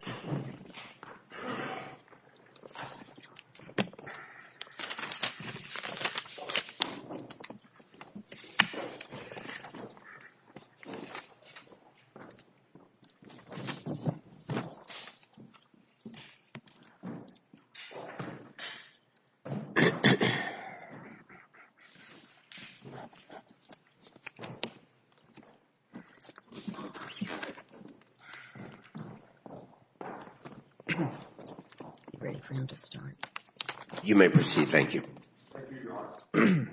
Coughing Coughing Ready for him to start. You may proceed. Thank you. Thank you, your honor.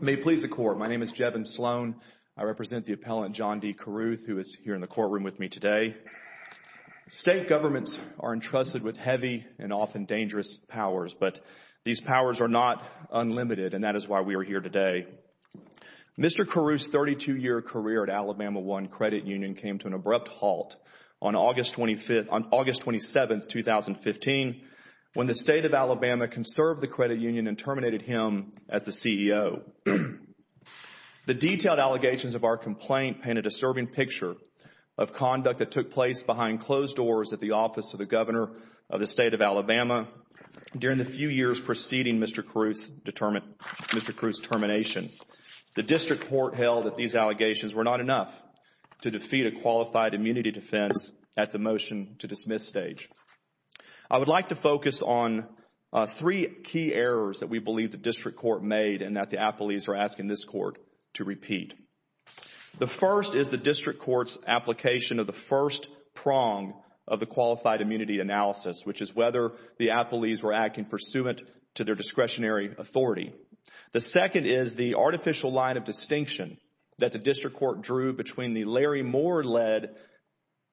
May it please the court. My name is Jevin Sloan, I represent the appellant John D. Carruth, who is here in the courtroom with me today. State governments are entrusted with heavy and often dangerous powers, but these powers are not unlimited, and that is why we are here today. Mr. Carruth's 32-year career at Alabama One Credit Union came to an abrupt halt on August 25th, on August 27th, 2015, when the state of Alabama conserved the credit union and terminated him as the CEO. The detailed allegations of our complaint painted a disturbing picture of conduct that took place behind closed doors at the office of the governor of the state of Alabama during the few years preceding Mr. Carruth's termination. The district court held that these allegations were not enough to defeat a qualified immunity defense at the motion-to-dismiss stage. I would like to focus on three key errors that we believe the district court made and that the appellees are asking this court to repeat. The first is the district court's application of the first prong of the qualified immunity analysis, which is whether the appellees were acting pursuant to their discretionary authority. The second is the artificial line of distinction that the district court drew between the Larry Moore-led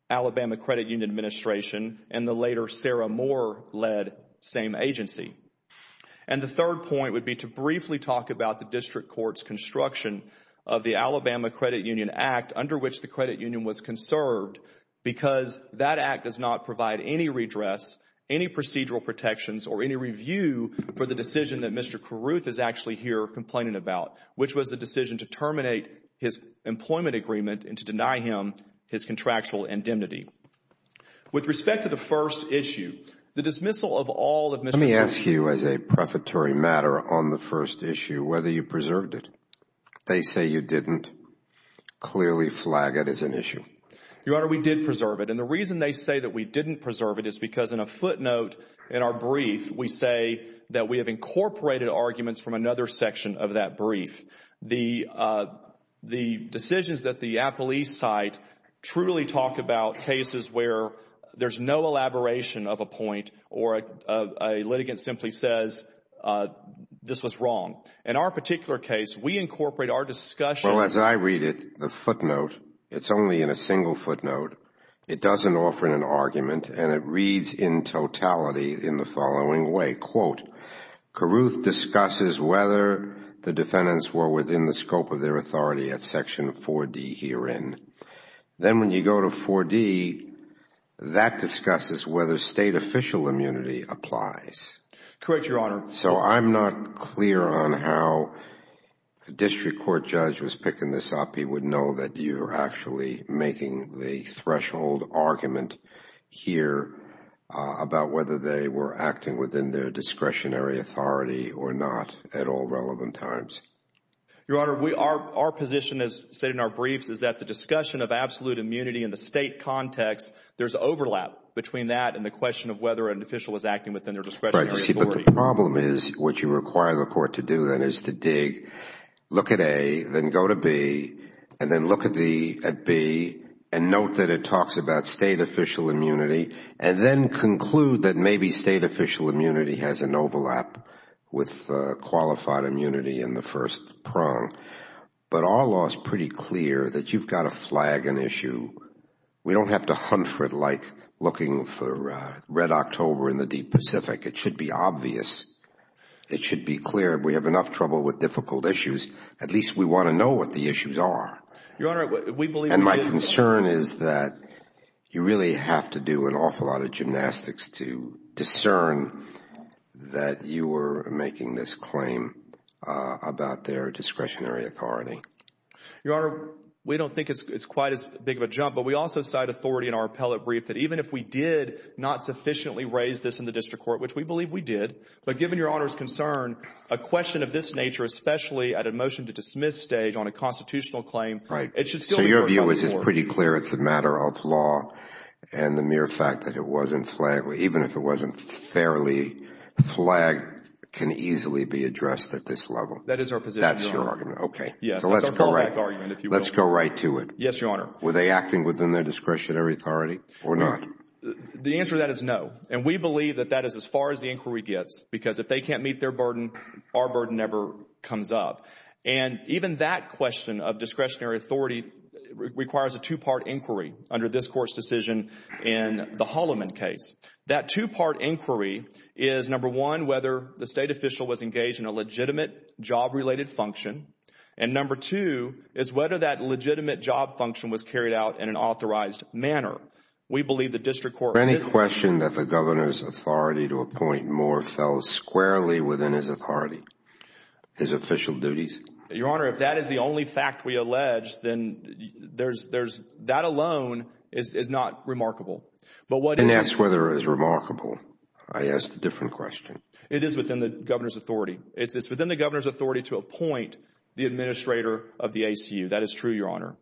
Alabama Credit Union Administration and the later Sarah Moore-led same agency. And the third point would be to briefly talk about the district court's construction of the Alabama Credit Union Act, under which the credit union was conserved, because that act does not provide any redress, any procedural protections, or any review for the decision that Mr. Carruth is actually here complaining about, which was the decision to terminate his employment agreement and to deny him his contractual indemnity. With respect to the first issue, the dismissal of all of Mr. Carruth's Let me ask you as a prefatory matter on the first issue whether you preserved it. They say you didn't. Clearly flag it as an issue. Your Honor, we did preserve it. And the reason they say that we didn't preserve it is because in a footnote in our brief, we say that we have incorporated arguments from another section of that brief. The decisions that the appellee cite truly talk about cases where there's no elaboration of a point or a litigant simply says this was wrong. In our particular case, we incorporate our discussion Well, as I read it, the footnote, it's only in a single footnote. It doesn't offer an argument, and it reads in totality in the following way. Quote, Carruth discusses whether the defendants were within the scope of their authority at section 4D herein. Then when you go to 4D, that discusses whether state official immunity applies. Correct, Your Honor. So I'm not clear on how a district court judge was picking this up. He would know that you're actually making the threshold argument here about whether they were acting within their discretionary authority or not at all relevant times. Your Honor, our position, as stated in our briefs, is that the discussion of absolute immunity in the state context, there's overlap between that and the question of whether an official is acting within their discretionary authority. Right. See, but the problem is what you require the court to do then is to dig, look at A, then go to B, and then look at B and note that it talks about state official immunity, and then conclude that maybe state official immunity has an overlap with qualified immunity in the first prong. But our law is pretty clear that you've got to flag an issue. We don't have to hunt for it like looking for red October in the deep Pacific. It should be obvious. It should be clear. We have enough trouble with difficult issues. At least we want to know what the issues are. Your Honor, we believe... And my concern is that you really have to do an awful lot of gymnastics to discern that you were making this claim about their discretionary authority. Your Honor, we don't think it's quite as big of a jump, but we also cite authority in our appellate brief that even if we did not sufficiently raise this in the district court, which we believe we did, but given Your Honor's concern, a question of this nature, especially at a motion to dismiss stage on a constitutional claim, it should still... So your view is pretty clear it's a matter of law and the mere fact that it wasn't flagged, even if it wasn't fairly flagged, can easily be addressed at this level? That is our position, Your Honor. That's your argument. Okay. Yes. It's a fallback argument, if you will. Let's go right to it. Yes, Your Honor. Were they acting within their discretionary authority or not? The answer to that is no, and we believe that that is as far as the inquiry gets because if they can't meet their burden, our burden never comes up. Even that question of discretionary authority requires a two-part inquiry under this Court's decision in the Holloman case. That two-part inquiry is, number one, whether the State official was engaged in a legitimate job-related function, and number two is whether that legitimate job function was carried out in an authorized manner. We believe the district court... The district court, therefore, fell squarely within his authority, his official duties. Your Honor, if that is the only fact we allege, then that alone is not remarkable. But what... And that's whether it's remarkable. I asked a different question. It is within the Governor's authority. It's within the Governor's authority to appoint the administrator of the ACU. That is true, Your Honor.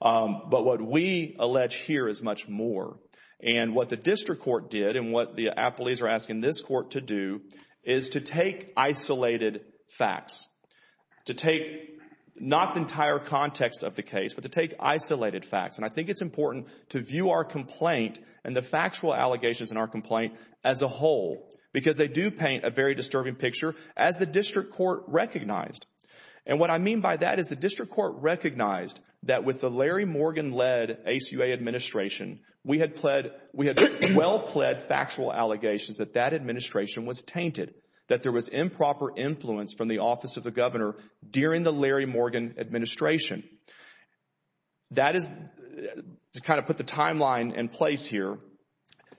But what we allege here is much more, and what the district court did and what the appellees are asking this Court to do, is to take isolated facts, to take not the entire context of the case, but to take isolated facts. And I think it's important to view our complaint and the factual allegations in our complaint as a whole, because they do paint a very disturbing picture, as the district court recognized. And what I mean by that is the district court recognized that with the Larry Morgan-led ACUA administration, we had well-pled factual allegations that that administration was tainted, that there was improper influence from the office of the Governor during the Larry Morgan administration. That is to kind of put the timeline in place here.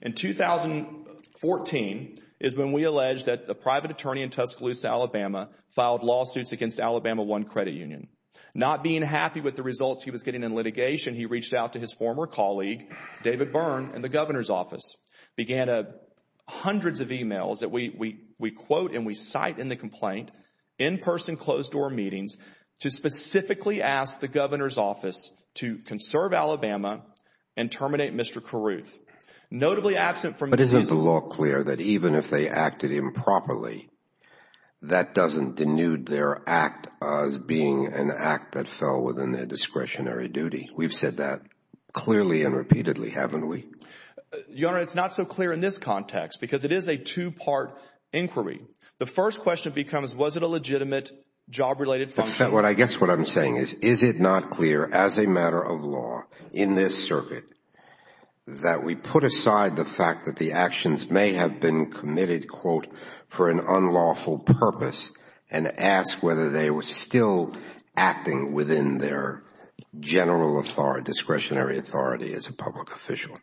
In 2014 is when we allege that the private attorney in Tuscaloosa, Alabama, filed lawsuits against Alabama One Credit Union. Not being happy with the results he was getting in litigation, he reached out to his former colleague, David Byrne, in the Governor's office, began hundreds of emails that we quote and we cite in the complaint, in-person closed-door meetings, to specifically ask the Governor's office to conserve Alabama and terminate Mr. Carruth. Notably absent from the decision. But isn't the law clear that even if they acted improperly, that doesn't denude their act as being an act that fell within their discretionary duty? We've said that clearly and repeatedly, haven't we? Your Honor, it's not so clear in this context because it is a two-part inquiry. The first question becomes, was it a legitimate job-related function? I guess what I'm saying is, is it not clear as a matter of law in this circuit that we put aside the fact that the actions may have been committed, quote, for an unlawful purpose and ask whether they were still acting within their general discretionary authority as a public official?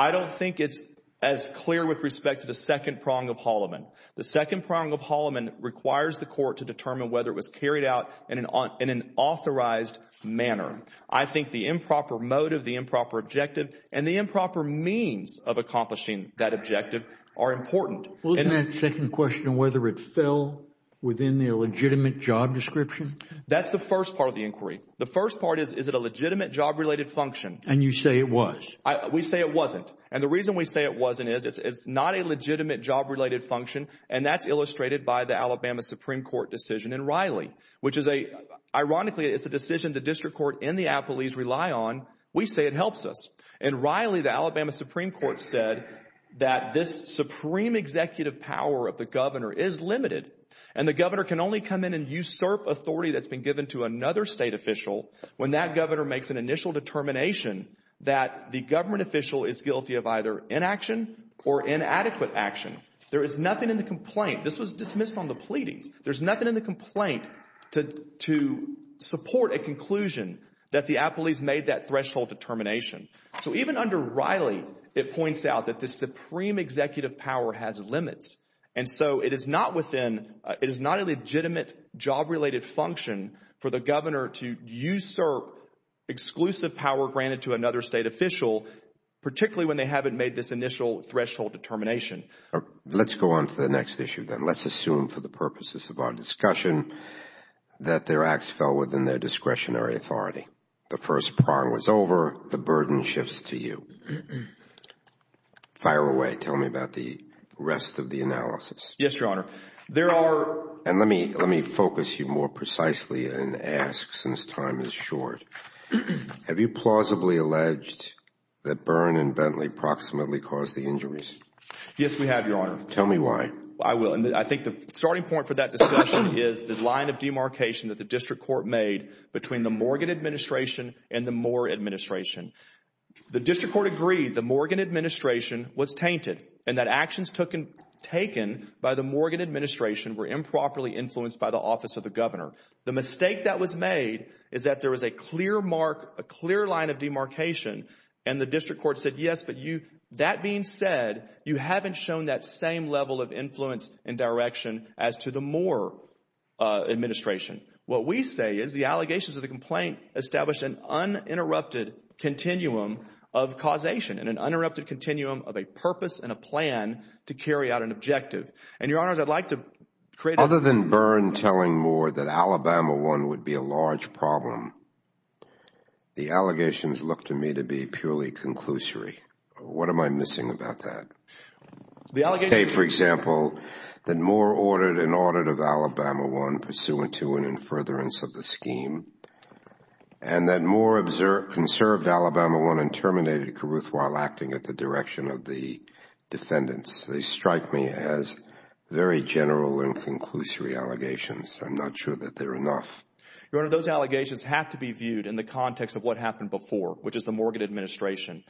I don't think it's as clear with respect to the second prong of Holloman. The second prong of Holloman requires the court to determine whether it was carried out in an authorized manner. I think the improper motive, the improper objective, and the improper means of accomplishing that objective are important. And that second question, whether it fell within their legitimate job description? That's the first part of the inquiry. The first part is, is it a legitimate job-related function? And you say it was. We say it wasn't. And the reason we say it wasn't is, it's not a legitimate job-related function, and that's illustrated by the Alabama Supreme Court decision in Riley, which is a, ironically, it's a decision the district court and the appellees rely on. We say it helps us. In Riley, the Alabama Supreme Court said that this supreme executive power of the governor is limited, and the governor can only come in and usurp authority that's been given to another state official when that governor makes an initial determination that the government official is guilty of either inaction or inadequate action. There is nothing in the complaint. This was dismissed on the pleadings. There's nothing in the complaint to support a conclusion that the appellees made that threshold determination. So even under Riley, it points out that the supreme executive power has limits. And so it is not within, it is not a legitimate job-related function for the governor to usurp exclusive power granted to another state official, particularly when they haven't made this initial threshold determination. Let's go on to the next issue, then. Let's assume for the purposes of our discussion that their acts fell within their discretionary authority. The first prong was over. The burden shifts to you. Fire away. Tell me about the rest of the analysis. Yes, Your Honor. There are... And let me focus you more precisely and ask, since time is short, have you plausibly alleged that Byrne and Bentley proximately caused the injuries? Yes, we have, Your Honor. Tell me why. I will. And I think the starting point for that discussion is the line of demarcation that the district and the Moore administration. The district court agreed the Morgan administration was tainted and that actions taken by the Morgan administration were improperly influenced by the office of the governor. The mistake that was made is that there was a clear mark, a clear line of demarcation, and the district court said, yes, but you, that being said, you haven't shown that same level of influence and direction as to the Moore administration. What we say is the allegations of the complaint established an uninterrupted continuum of causation and an uninterrupted continuum of a purpose and a plan to carry out an objective. And Your Honor, I'd like to create... Other than Byrne telling Moore that Alabama 1 would be a large problem, the allegations look to me to be purely conclusory. What am I missing about that? The allegations... You say, for example, that Moore ordered an audit of Alabama 1 pursuant to an in furtherance of the scheme and that Moore observed, conserved Alabama 1 and terminated Caruth while acting at the direction of the defendants. They strike me as very general and conclusory allegations. I'm not sure that they're enough. Your Honor, those allegations have to be viewed in the context of what happened before, which is the Morgan administration.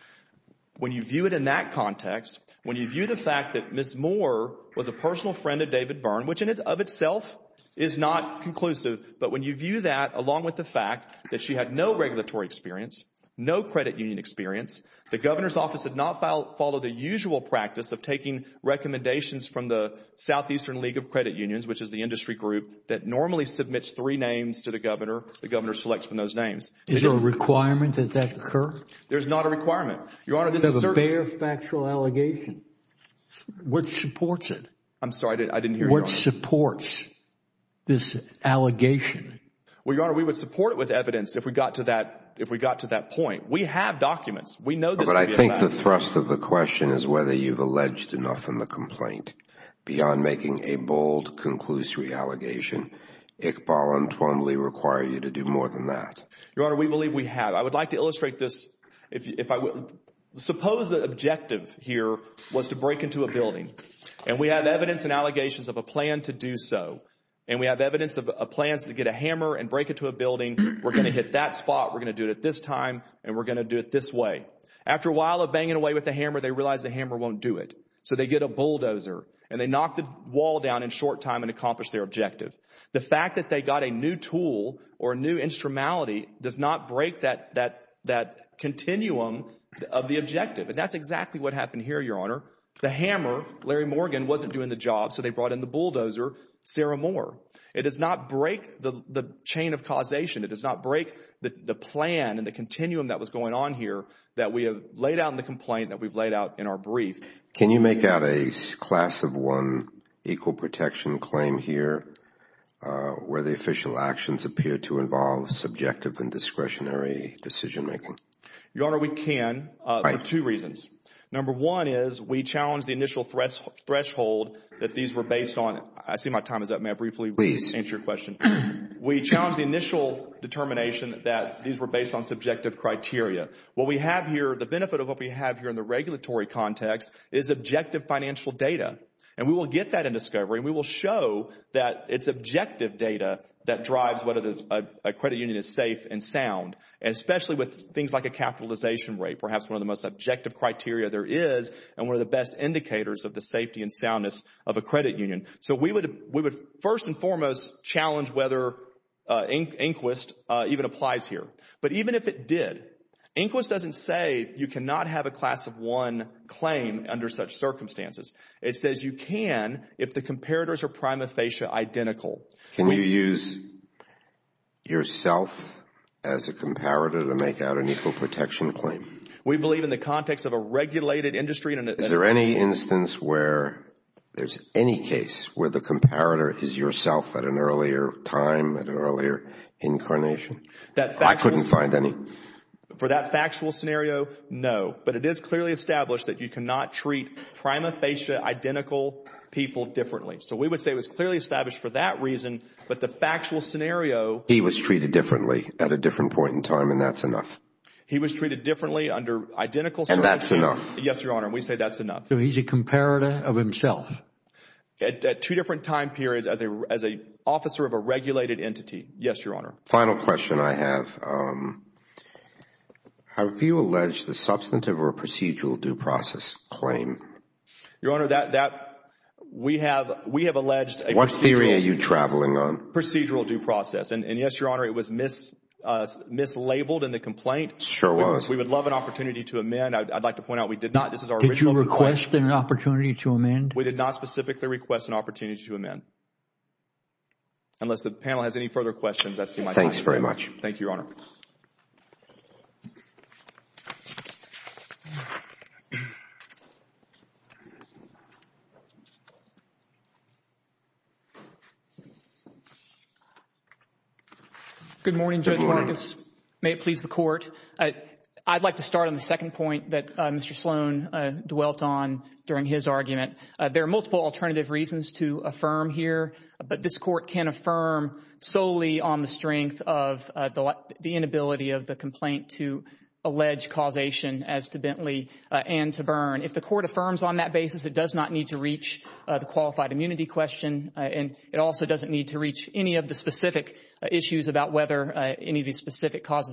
When you view it in that context, when you view the fact that Ms. Moore was a personal friend of David Byrne, which in and of itself is not conclusive, but when you view that along with the fact that she had no regulatory experience, no credit union experience, the governor's office did not follow the usual practice of taking recommendations from the Southeastern League of Credit Unions, which is the industry group that normally submits three names to the governor. The governor selects from those names. Is there a requirement that that occur? There's not a requirement. There's a bare factual allegation. What supports it? I'm sorry. I didn't hear you. What supports this allegation? Well, Your Honor, we would support it with evidence if we got to that point. We have documents. We know this. But I think the thrust of the question is whether you've alleged enough in the complaint beyond making a bold, conclusory allegation, Iqbal and Twombly require you to do more than that. Your Honor, we believe we have. We believe we have. I would like to illustrate this. Suppose the objective here was to break into a building. And we have evidence and allegations of a plan to do so. And we have evidence of plans to get a hammer and break into a building. We're going to hit that spot. We're going to do it at this time. And we're going to do it this way. After a while of banging away with the hammer, they realize the hammer won't do it. So they get a bulldozer. And they knock the wall down in short time and accomplish their objective. The fact that they got a new tool or a new instrumentality does not break that continuum of the objective. And that's exactly what happened here, Your Honor. The hammer, Larry Morgan, wasn't doing the job. So they brought in the bulldozer, Sarah Moore. It does not break the chain of causation. It does not break the plan and the continuum that was going on here that we have laid out in the complaint that we've laid out in our brief. Can you make out a class of one equal protection claim here where the official actions appear to involve subjective and discretionary decision making? Your Honor, we can for two reasons. Number one is we challenged the initial threshold that these were based on. I see my time is up. May I briefly answer your question? We challenged the initial determination that these were based on subjective criteria. What we have here, the benefit of what we have here in the regulatory context is objective financial data. And we will get that in discovery. And we will show that it's objective data that drives whether a credit union is safe and sound. And especially with things like a capitalization rate, perhaps one of the most objective criteria there is and one of the best indicators of the safety and soundness of a credit union. So we would first and foremost challenge whether INQUIST even applies here. But even if it did, INQUIST doesn't say you cannot have a class of one claim under such circumstances. It says you can if the comparators are prima facie identical. Can you use yourself as a comparator to make out an equal protection claim? We believe in the context of a regulated industry. Is there any instance where there's any case where the comparator is yourself at an earlier time, at an earlier incarnation? I couldn't find any. For that factual scenario, no. But it is clearly established that you cannot treat prima facie identical people differently. So we would say it was clearly established for that reason. But the factual scenario. He was treated differently at a different point in time and that's enough. He was treated differently under identical circumstances. And that's enough. Yes, Your Honor. We say that's enough. So he's a comparator of himself. At two different time periods as an officer of a regulated entity. Yes, Your Honor. Final question I have. Have you alleged the substantive or procedural due process claim? Your Honor, we have alleged a procedural due process. What theory are you traveling on? And yes, Your Honor, it was mislabeled in the complaint. Sure was. We would love an opportunity to amend. I'd like to point out we did not. This is our original complaint. Did you request an opportunity to amend? We did not specifically request an opportunity to amend. Unless the panel has any further questions, I see my time is up. Thanks very much. Thank you, Your Honor. Good morning, Judge Marcus. Good morning. May it please the Court. I'd like to start on the second point that Mr. Sloan dwelt on during his argument. There are multiple alternative reasons to affirm here, but this Court can affirm solely on the strength of the inability of the complaint to allege causation as to Bentley and to Byrne. If the Court affirms on that basis, it does not need to reach the qualified immunity question, and it also doesn't need to reach any of the specific issues about whether any of these This Court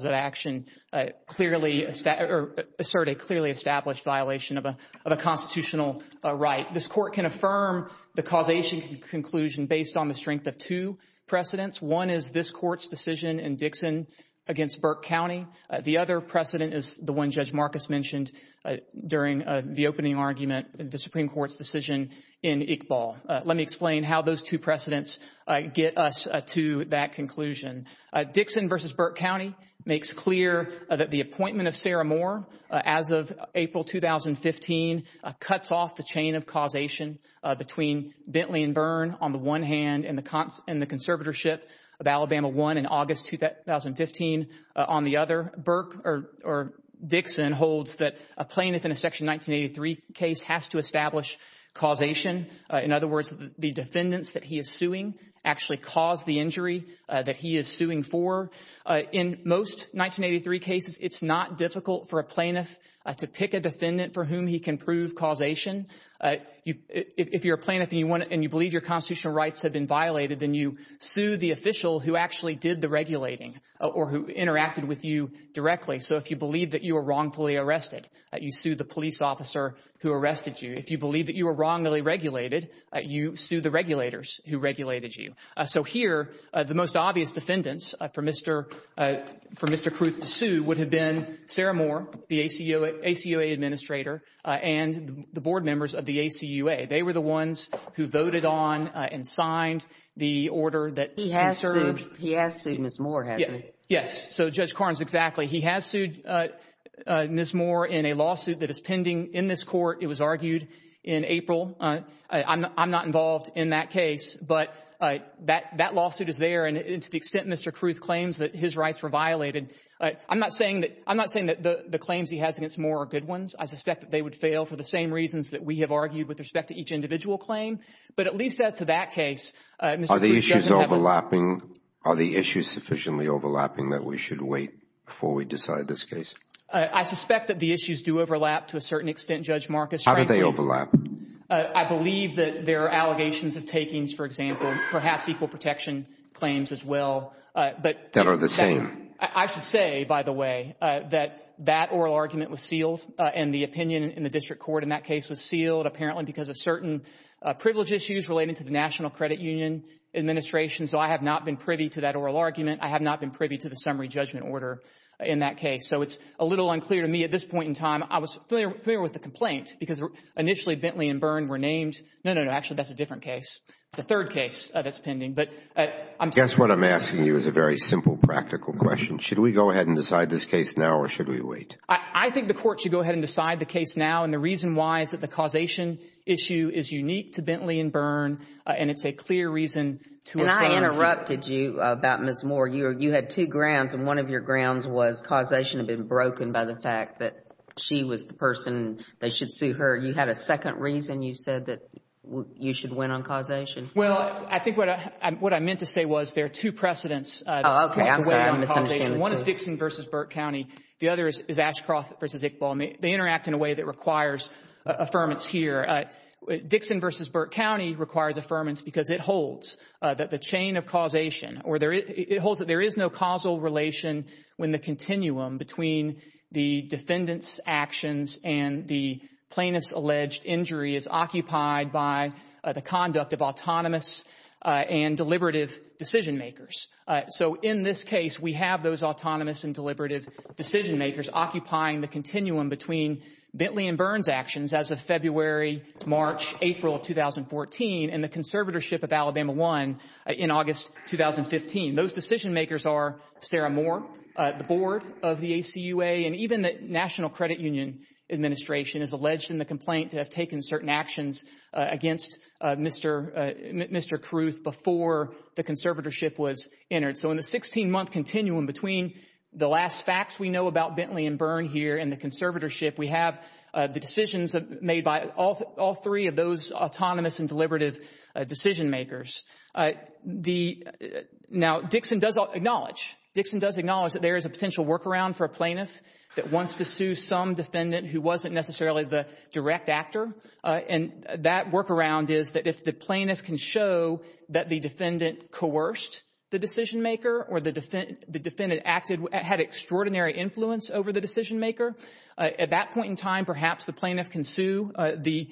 can affirm the causation conclusion based on the strength of two precedents. One is this Court's decision in Dixon against Burke County. The other precedent is the one Judge Marcus mentioned during the opening argument, the Supreme Court's decision in Iqbal. Let me explain how those two precedents get us to that conclusion. Dixon versus Burke County makes clear that the appointment of Sarah Moore as of April 2015 cuts off the chain of causation between Bentley and Byrne on the one hand and the conservatorship of Alabama I in August 2015. On the other, Burke or Dixon holds that a plaintiff in a Section 1983 case has to establish causation. In other words, the defendants that he is suing actually cause the injury that he is suing for. In most 1983 cases, it's not difficult for a plaintiff to pick a defendant for whom he can prove causation. If you're a plaintiff and you believe your constitutional rights have been violated, then you sue the official who actually did the regulating or who interacted with you directly. So if you believe that you were wrongfully arrested, you sue the police officer who arrested you. If you believe that you were wrongly regulated, you sue the regulators who regulated you. So here, the most obvious defendants for Mr. Kruth to sue would have been Sarah Moore, the ACUA administrator, and the board members of the ACUA. They were the ones who voted on and signed the order that conserved. He has sued Ms. Moore, hasn't he? Yes. So Judge Carnes, exactly. He has sued Ms. Moore in a lawsuit that is pending in this court. It was argued in April. I'm not involved in that case, but that lawsuit is there. And to the extent Mr. Kruth claims that his rights were violated, I'm not saying that the claims he has against Moore are good ones. I suspect that they would fail for the same reasons that we have argued with respect to each individual claim. But at least as to that case, Mr. Kruth doesn't have a— Are the issues overlapping? Are the issues sufficiently overlapping that we should wait before we decide this case? I suspect that the issues do overlap to a certain extent, Judge Marcus. How do they overlap? I believe that there are allegations of takings, for example, perhaps equal protection claims as well. That are the same. I should say, by the way, that that oral argument was sealed and the opinion in the district court in that case was sealed, apparently because of certain privilege issues related to the National Credit Union administration. So I have not been privy to that oral argument. I have not been privy to the summary judgment order in that case. So it's a little unclear to me at this point in time. I was familiar with the complaint because initially Bentley and Byrne were named. No, no, no. Actually, that's a different case. It's a third case that's pending. But I'm— I guess what I'm asking you is a very simple practical question. Should we go ahead and decide this case now or should we wait? I think the court should go ahead and decide the case now. And the reason why is that the causation issue is unique to Bentley and Byrne. And it's a clear reason to— And I interrupted you about Ms. Moore. You had two grounds. And one of your grounds was causation had been broken by the fact that she was the person. They should sue her. You had a second reason you said that you should win on causation. Well, I think what I meant to say was there are two precedents. Oh, okay. I'm sorry. I'm misunderstanding the two. One is Dixon v. Burke County. The other is Ashcroft v. Iqbal. And they interact in a way that requires affirmance here. Dixon v. Burke County requires affirmance because it holds that the chain of causation or it holds that there is no causal relation when the continuum between the defendant's actions and the plaintiff's alleged injury is occupied by the conduct of autonomous and deliberative decision makers. So in this case, we have those autonomous and deliberative decision makers occupying the continuum between Bentley and Byrne's actions as of February, March, April of 2014, and the conservatorship of Alabama I in August 2015. Those decision makers are Sarah Moore, the board of the ACUA, and even the National Credit Union administration is alleged in the complaint to have taken certain actions against Mr. Carruth before the conservatorship was entered. So in the 16-month continuum between the last facts we know about Bentley and Byrne here and the conservatorship, we have the decisions made by all three of those autonomous and deliberative decision makers. Now, Dixon does acknowledge, Dixon does acknowledge that there is a potential workaround for a plaintiff that wants to sue some defendant who wasn't necessarily the direct actor. And that workaround is that if the plaintiff can show that the defendant coerced the decision maker or the defendant acted, had extraordinary influence over the decision maker, at that point in time, perhaps the plaintiff can sue the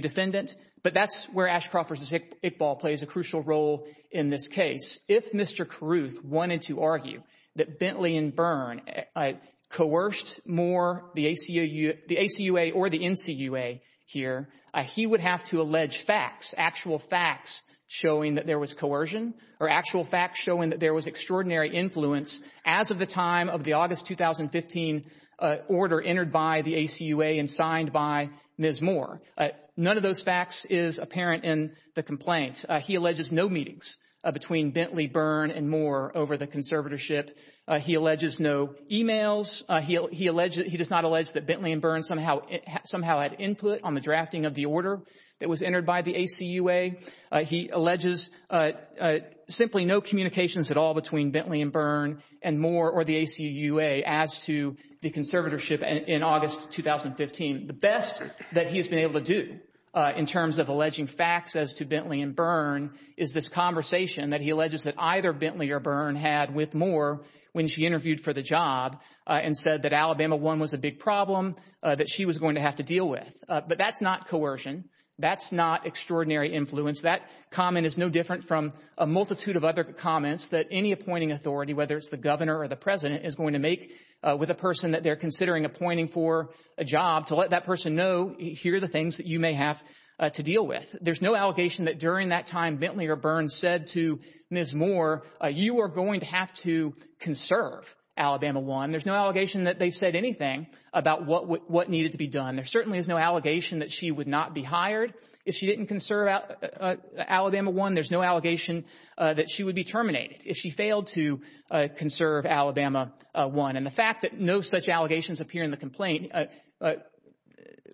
defendant. But that's where Ashcroft v. Iqbal plays a crucial role in this case. If Mr. Carruth wanted to argue that Bentley and Byrne coerced more the ACUA or the NCUA here, he would have to allege facts, actual facts showing that there was coercion or actual facts showing that there was extraordinary influence as of the time of the August 2015 order entered by the ACUA and signed by Ms. Moore. None of those facts is apparent in the complaint. He alleges no meetings between Bentley, Byrne, and Moore over the conservatorship. He alleges no e-mails. He does not allege that Bentley and Byrne somehow had input on the drafting of the order that was entered by the ACUA. He alleges simply no communications at all between Bentley and Byrne and Moore or the ACUA as to the conservatorship in August 2015. The best that he has been able to do in terms of alleging facts as to Bentley and Byrne is this conversation that he alleges that either Bentley or Byrne had with Moore when she interviewed for the job and said that Alabama I was a big problem that she was going to have to deal with. But that's not coercion. That's not extraordinary influence. That comment is no different from a multitude of other comments that any appointing authority, whether it's the governor or the president, is going to make with a person that they're considering appointing for a job to let that person know here are the things that you may have to deal with. There's no allegation that during that time Bentley or Byrne said to Ms. Moore, you are going to have to conserve Alabama I. There's no allegation that they said anything about what needed to be done. There certainly is no allegation that she would not be hired if she didn't conserve Alabama I. There's no allegation that she would be terminated if she failed to conserve Alabama I. And the fact that no such allegations appear in the complaint,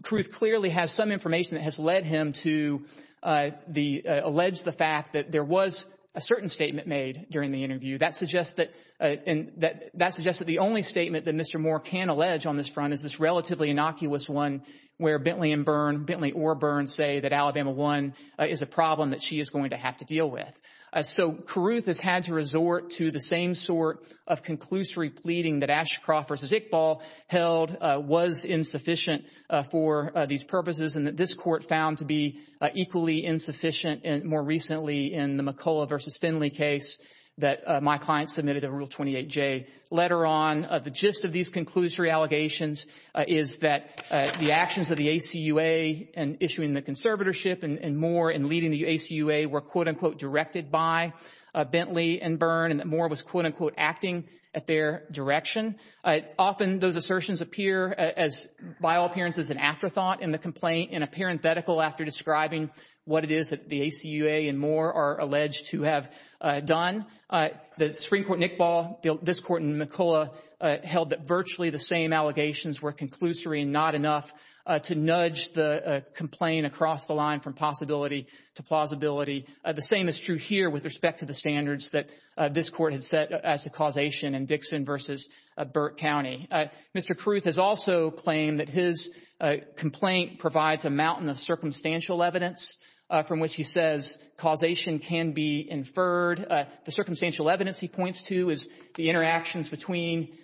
Kruth clearly has some information that has led him to allege the fact that there was a certain statement made during the interview. That suggests that the only statement that Mr. Moore can allege on this front is this relatively innocuous one where Bentley and Byrne, Bentley or Byrne, say that Alabama I is a problem that she is going to have to deal with. So Kruth has had to resort to the same sort of conclusory pleading that Ashcroft v. Iqbal held was insufficient for these purposes and that this court found to be equally insufficient more recently in the McCullough v. Finley case that my client submitted in Rule 28J. Later on, the gist of these conclusory allegations is that the actions of the ACUA in issuing the conservatorship and Moore in leading the ACUA were, quote-unquote, directed by Bentley and Byrne and that Moore was, quote-unquote, acting at their direction. Often those assertions appear as, by all appearances, an afterthought in the complaint in a parenthetical after describing what it is that the ACUA and Moore are alleged to have done. The Supreme Court, Iqbal, this court, and McCullough held that virtually the same allegations were conclusory and not enough to nudge the complaint across the line from possibility to plausibility. The same is true here with respect to the standards that this court had set as a causation in Dixon v. Burke County. Mr. Carruth has also claimed that his complaint provides a mountain of circumstantial evidence from which he says causation can be inferred. The circumstantial evidence he points to is the interactions between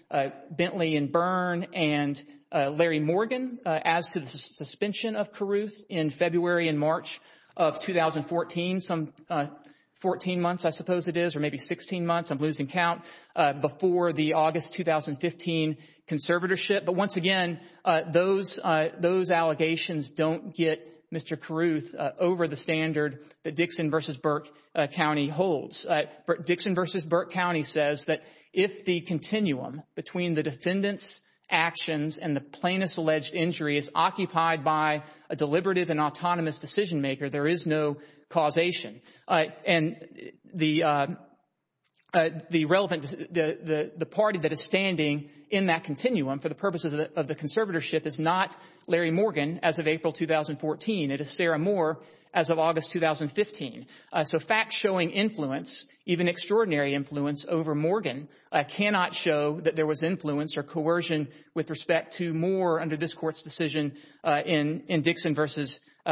Bentley and Byrne and Larry Morgan as to the suspension of Carruth in February and March of 2014, some 14 months, I suppose it is, or maybe 16 months, I'm losing count, before the August 2015 conservatorship. But once again, those allegations don't get Mr. Carruth over the standard that Dixon v. Burke County holds. Dixon v. Burke County says that if the continuum between the defendant's actions and the plaintiff's alleged injury is occupied by a deliberative and autonomous decision-maker, there is no causation. And the relevant, the party that is standing in that continuum for the purposes of the conservatorship is not Larry Morgan as of April 2014. It is Sarah Moore as of August 2015. So facts showing influence, even extraordinary influence over Morgan, cannot show that there was influence or coercion with respect to Moore under this Court's decision in Dixon v.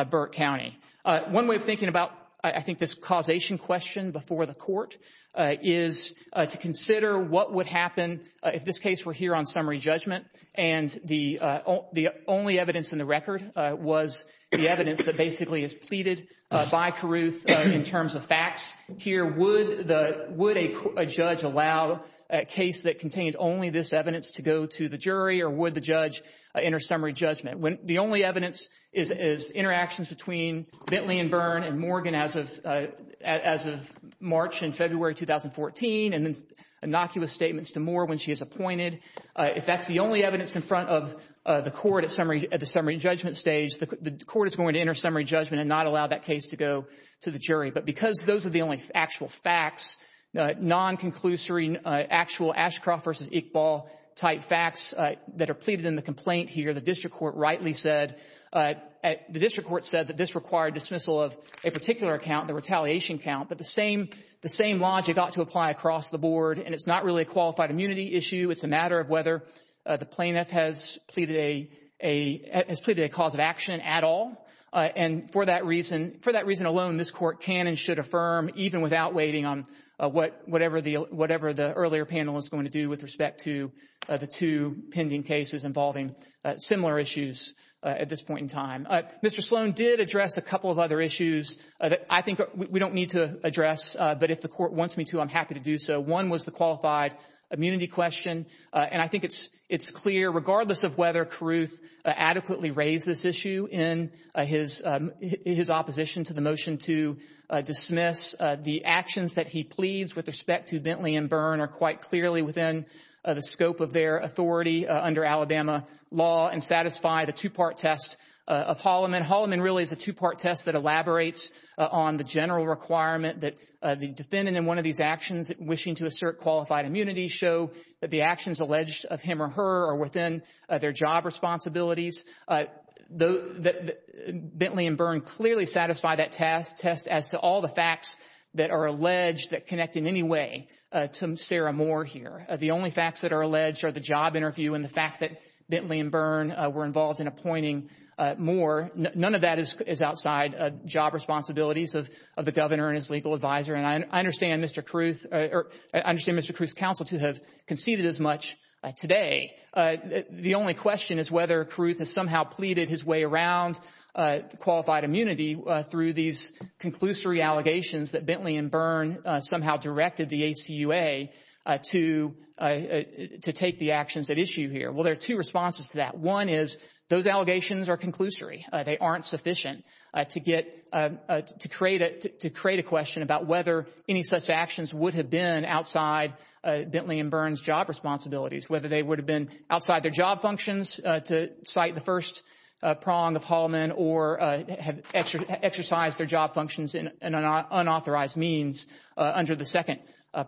Burke County. One way of thinking about, I think, this causation question before the Court is to consider what would happen if this case were here on summary judgment and the only evidence in the record was the evidence that basically is pleaded by Carruth in terms of facts here. Would a judge allow a case that contained only this evidence to go to the jury or would the judge enter summary judgment? The only evidence is interactions between Bentley and Byrne and Morgan as of March and February 2014 and innocuous statements to Moore when she is appointed. If that's the only evidence in front of the Court at the summary judgment stage, the Court is going to enter summary judgment and not allow that case to go to the jury. But because those are the only actual facts, non-conclusory actual Ashcroft v. Iqbal type facts, that are pleaded in the complaint here, the district court rightly said, the district court said that this required dismissal of a particular account, the retaliation count, but the same logic ought to apply across the board and it's not really a qualified immunity issue. It's a matter of whether the plaintiff has pleaded a cause of action at all. And for that reason alone, this Court can and should affirm, even without waiting on whatever the earlier panel is going to do with respect to the two pending cases involving similar issues at this point in time. Mr. Sloan did address a couple of other issues that I think we don't need to address, but if the Court wants me to, I'm happy to do so. One was the qualified immunity question, and I think it's clear, regardless of whether Carruth adequately raised this issue in his opposition to the motion to dismiss the actions that he pleads with respect to Bentley and Byrne are quite clearly within the scope of their authority under Alabama law and satisfy the two-part test of Holliman. Holliman really is a two-part test that elaborates on the general requirement that the defendant in one of these actions wishing to assert qualified immunity show that the actions alleged of him or her are within their job responsibilities. Bentley and Byrne clearly satisfy that test as to all the facts that are alleged that connect in any way to Sarah Moore here. The only facts that are alleged are the job interview and the fact that Bentley and Byrne were involved in appointing Moore. None of that is outside job responsibilities of the governor and his legal advisor, and I understand Mr. Carruth's counsel to have conceded as much today. The only question is whether Carruth has somehow pleaded his way around qualified immunity through these conclusory allegations that Bentley and Byrne somehow directed the ACUA to take the actions at issue here. Well, there are two responses to that. One is those allegations are conclusory. They aren't sufficient to create a question about whether any such actions would have been outside Bentley and Byrne's job responsibilities, whether they would have been outside their job functions to cite the first prong of Haulman or have exercised their job functions in unauthorized means under the second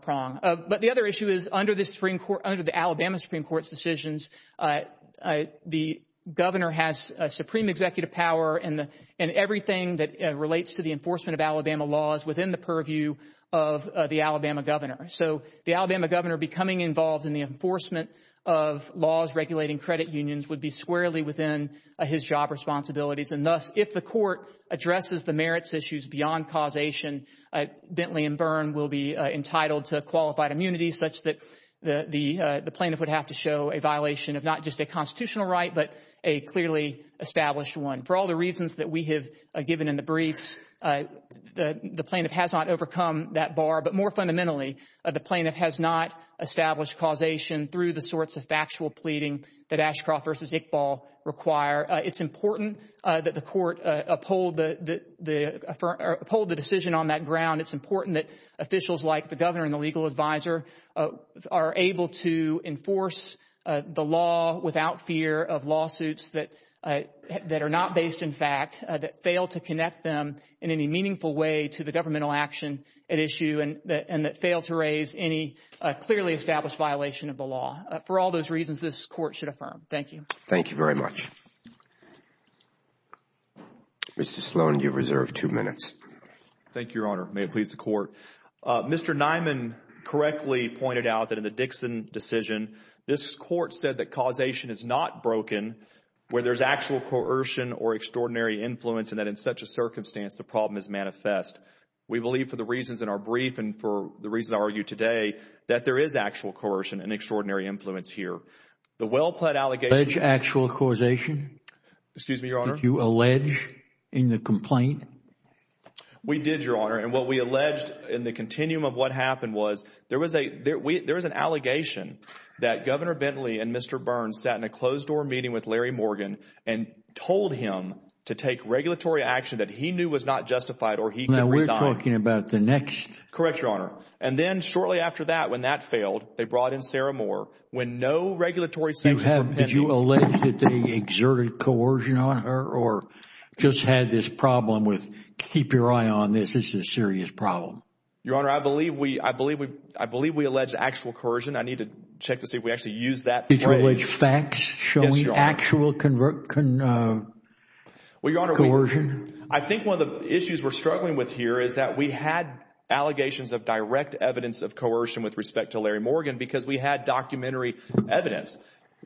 prong. But the other issue is under the Alabama Supreme Court's decisions, the governor has supreme executive power in everything that relates to the enforcement of Alabama laws within the purview of the Alabama governor. So the Alabama governor becoming involved in the enforcement of laws regulating credit unions would be squarely within his job responsibilities. And thus, if the court addresses the merits issues beyond causation, Bentley and Byrne will be entitled to qualified immunity such that the plaintiff would have to show a violation of not just a constitutional right but a clearly established one. For all the reasons that we have given in the briefs, the plaintiff has not overcome that bar. But more fundamentally, the plaintiff has not established causation through the sorts of factual pleading that Ashcroft v. Iqbal require. It's important that the court uphold the decision on that ground. It's important that officials like the governor and the legal advisor are able to enforce the law without fear of lawsuits that are not based in fact, that fail to connect them in any meaningful way to the governmental action at issue and that fail to raise any clearly established violation of the law. For all those reasons, this court should affirm. Thank you. Thank you very much. Mr. Sloan, you have reserved two minutes. Thank you, Your Honor. May it please the court. Mr. Nyman correctly pointed out that in the Dixon decision, this court said that causation is not broken where there is actual coercion or extraordinary influence and that in such a circumstance, the problem is manifest. We believe for the reasons in our brief and for the reason I argue today, that there is actual coercion and extraordinary influence here. The well-pleaded allegation Alleged actual causation? Excuse me, Your Honor. Did you allege in the complaint? We did, Your Honor. And what we alleged in the continuum of what happened was there was an allegation that Governor Bentley and Mr. Burns sat in a closed door meeting with Larry Morgan and told him to take regulatory action that he knew was not justified or he could resign. Now, we're talking about the next. Correct, Your Honor. And then shortly after that, when that failed, they brought in Sarah Moore. When no regulatory sanctions were pending. Did you allege that they exerted coercion on her or just had this problem with keep your eye on this? This is a serious problem. Your Honor, I believe we alleged actual coercion. I need to check to see if we actually used that phrase. Did you allege facts showing actual coercion? Well, Your Honor, I think one of the issues we're struggling with here is that we had allegations of direct evidence of coercion with respect to Larry Morgan because we had documentary evidence.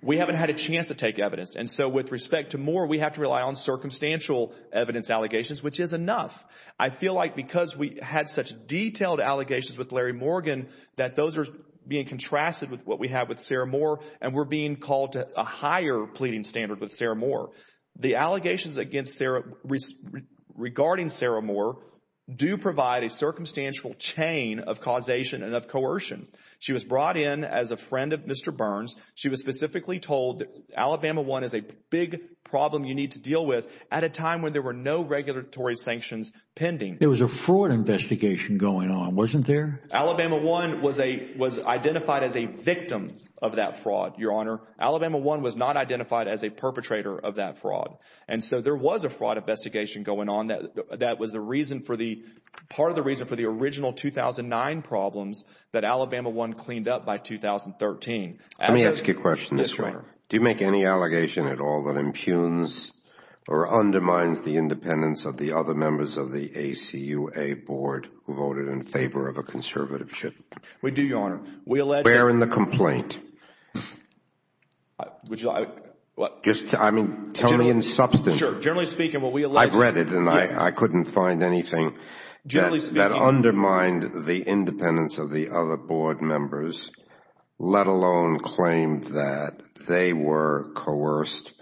We haven't had a chance to take evidence. And so with respect to Moore, we have to rely on circumstantial evidence allegations, which is enough. I feel like because we had such detailed allegations with Larry Morgan that those are being contrasted with what we have with Sarah Moore and we're being called to a higher pleading standard with Sarah Moore. The allegations regarding Sarah Moore do provide a circumstantial chain of causation and of coercion. She was brought in as a friend of Mr. Burns. She was specifically told Alabama one is a big problem you need to deal with at a time when there were no regulatory sanctions pending. It was a fraud investigation going on, wasn't there? Alabama one was a was identified as a victim of that fraud. Your Honor, Alabama one was not identified as a perpetrator of that fraud. And so there was a fraud investigation going on. That that was the reason for the part of the reason for the original 2009 problems that Alabama one cleaned up by 2013. Let me ask you a question this way. Do you make any allegation at all that impugns or undermines the independence of the other members of the ACUA board who voted in favor of a conservative? We do, Your Honor. Where in the complaint? I mean, tell me in substance. I've read it and I couldn't find anything that undermined the independence of the other board members. Let alone claim that they were coerced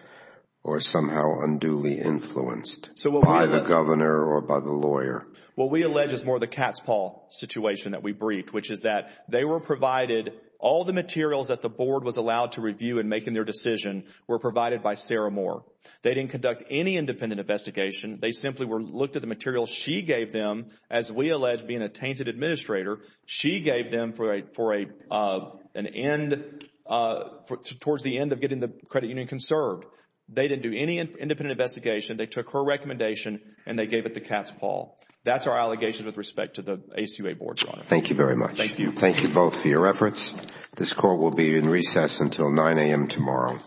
or somehow unduly influenced by the governor or by the lawyer. What we allege is more the cat's paw situation that we briefed, which is that they were provided, all the materials that the board was allowed to review in making their decision were provided by Sarah Moore. They didn't conduct any independent investigation. They simply were looked at the materials she gave them as we allege being a tainted administrator. She gave them towards the end of getting the credit union conserved. They didn't do any independent investigation. They took her recommendation and they gave it the cat's paw. That's our allegation with respect to the ACUA board, Your Honor. Thank you very much. Thank you. Thank you both for your efforts. This court will be in recess until 9 a.m. tomorrow. All rise.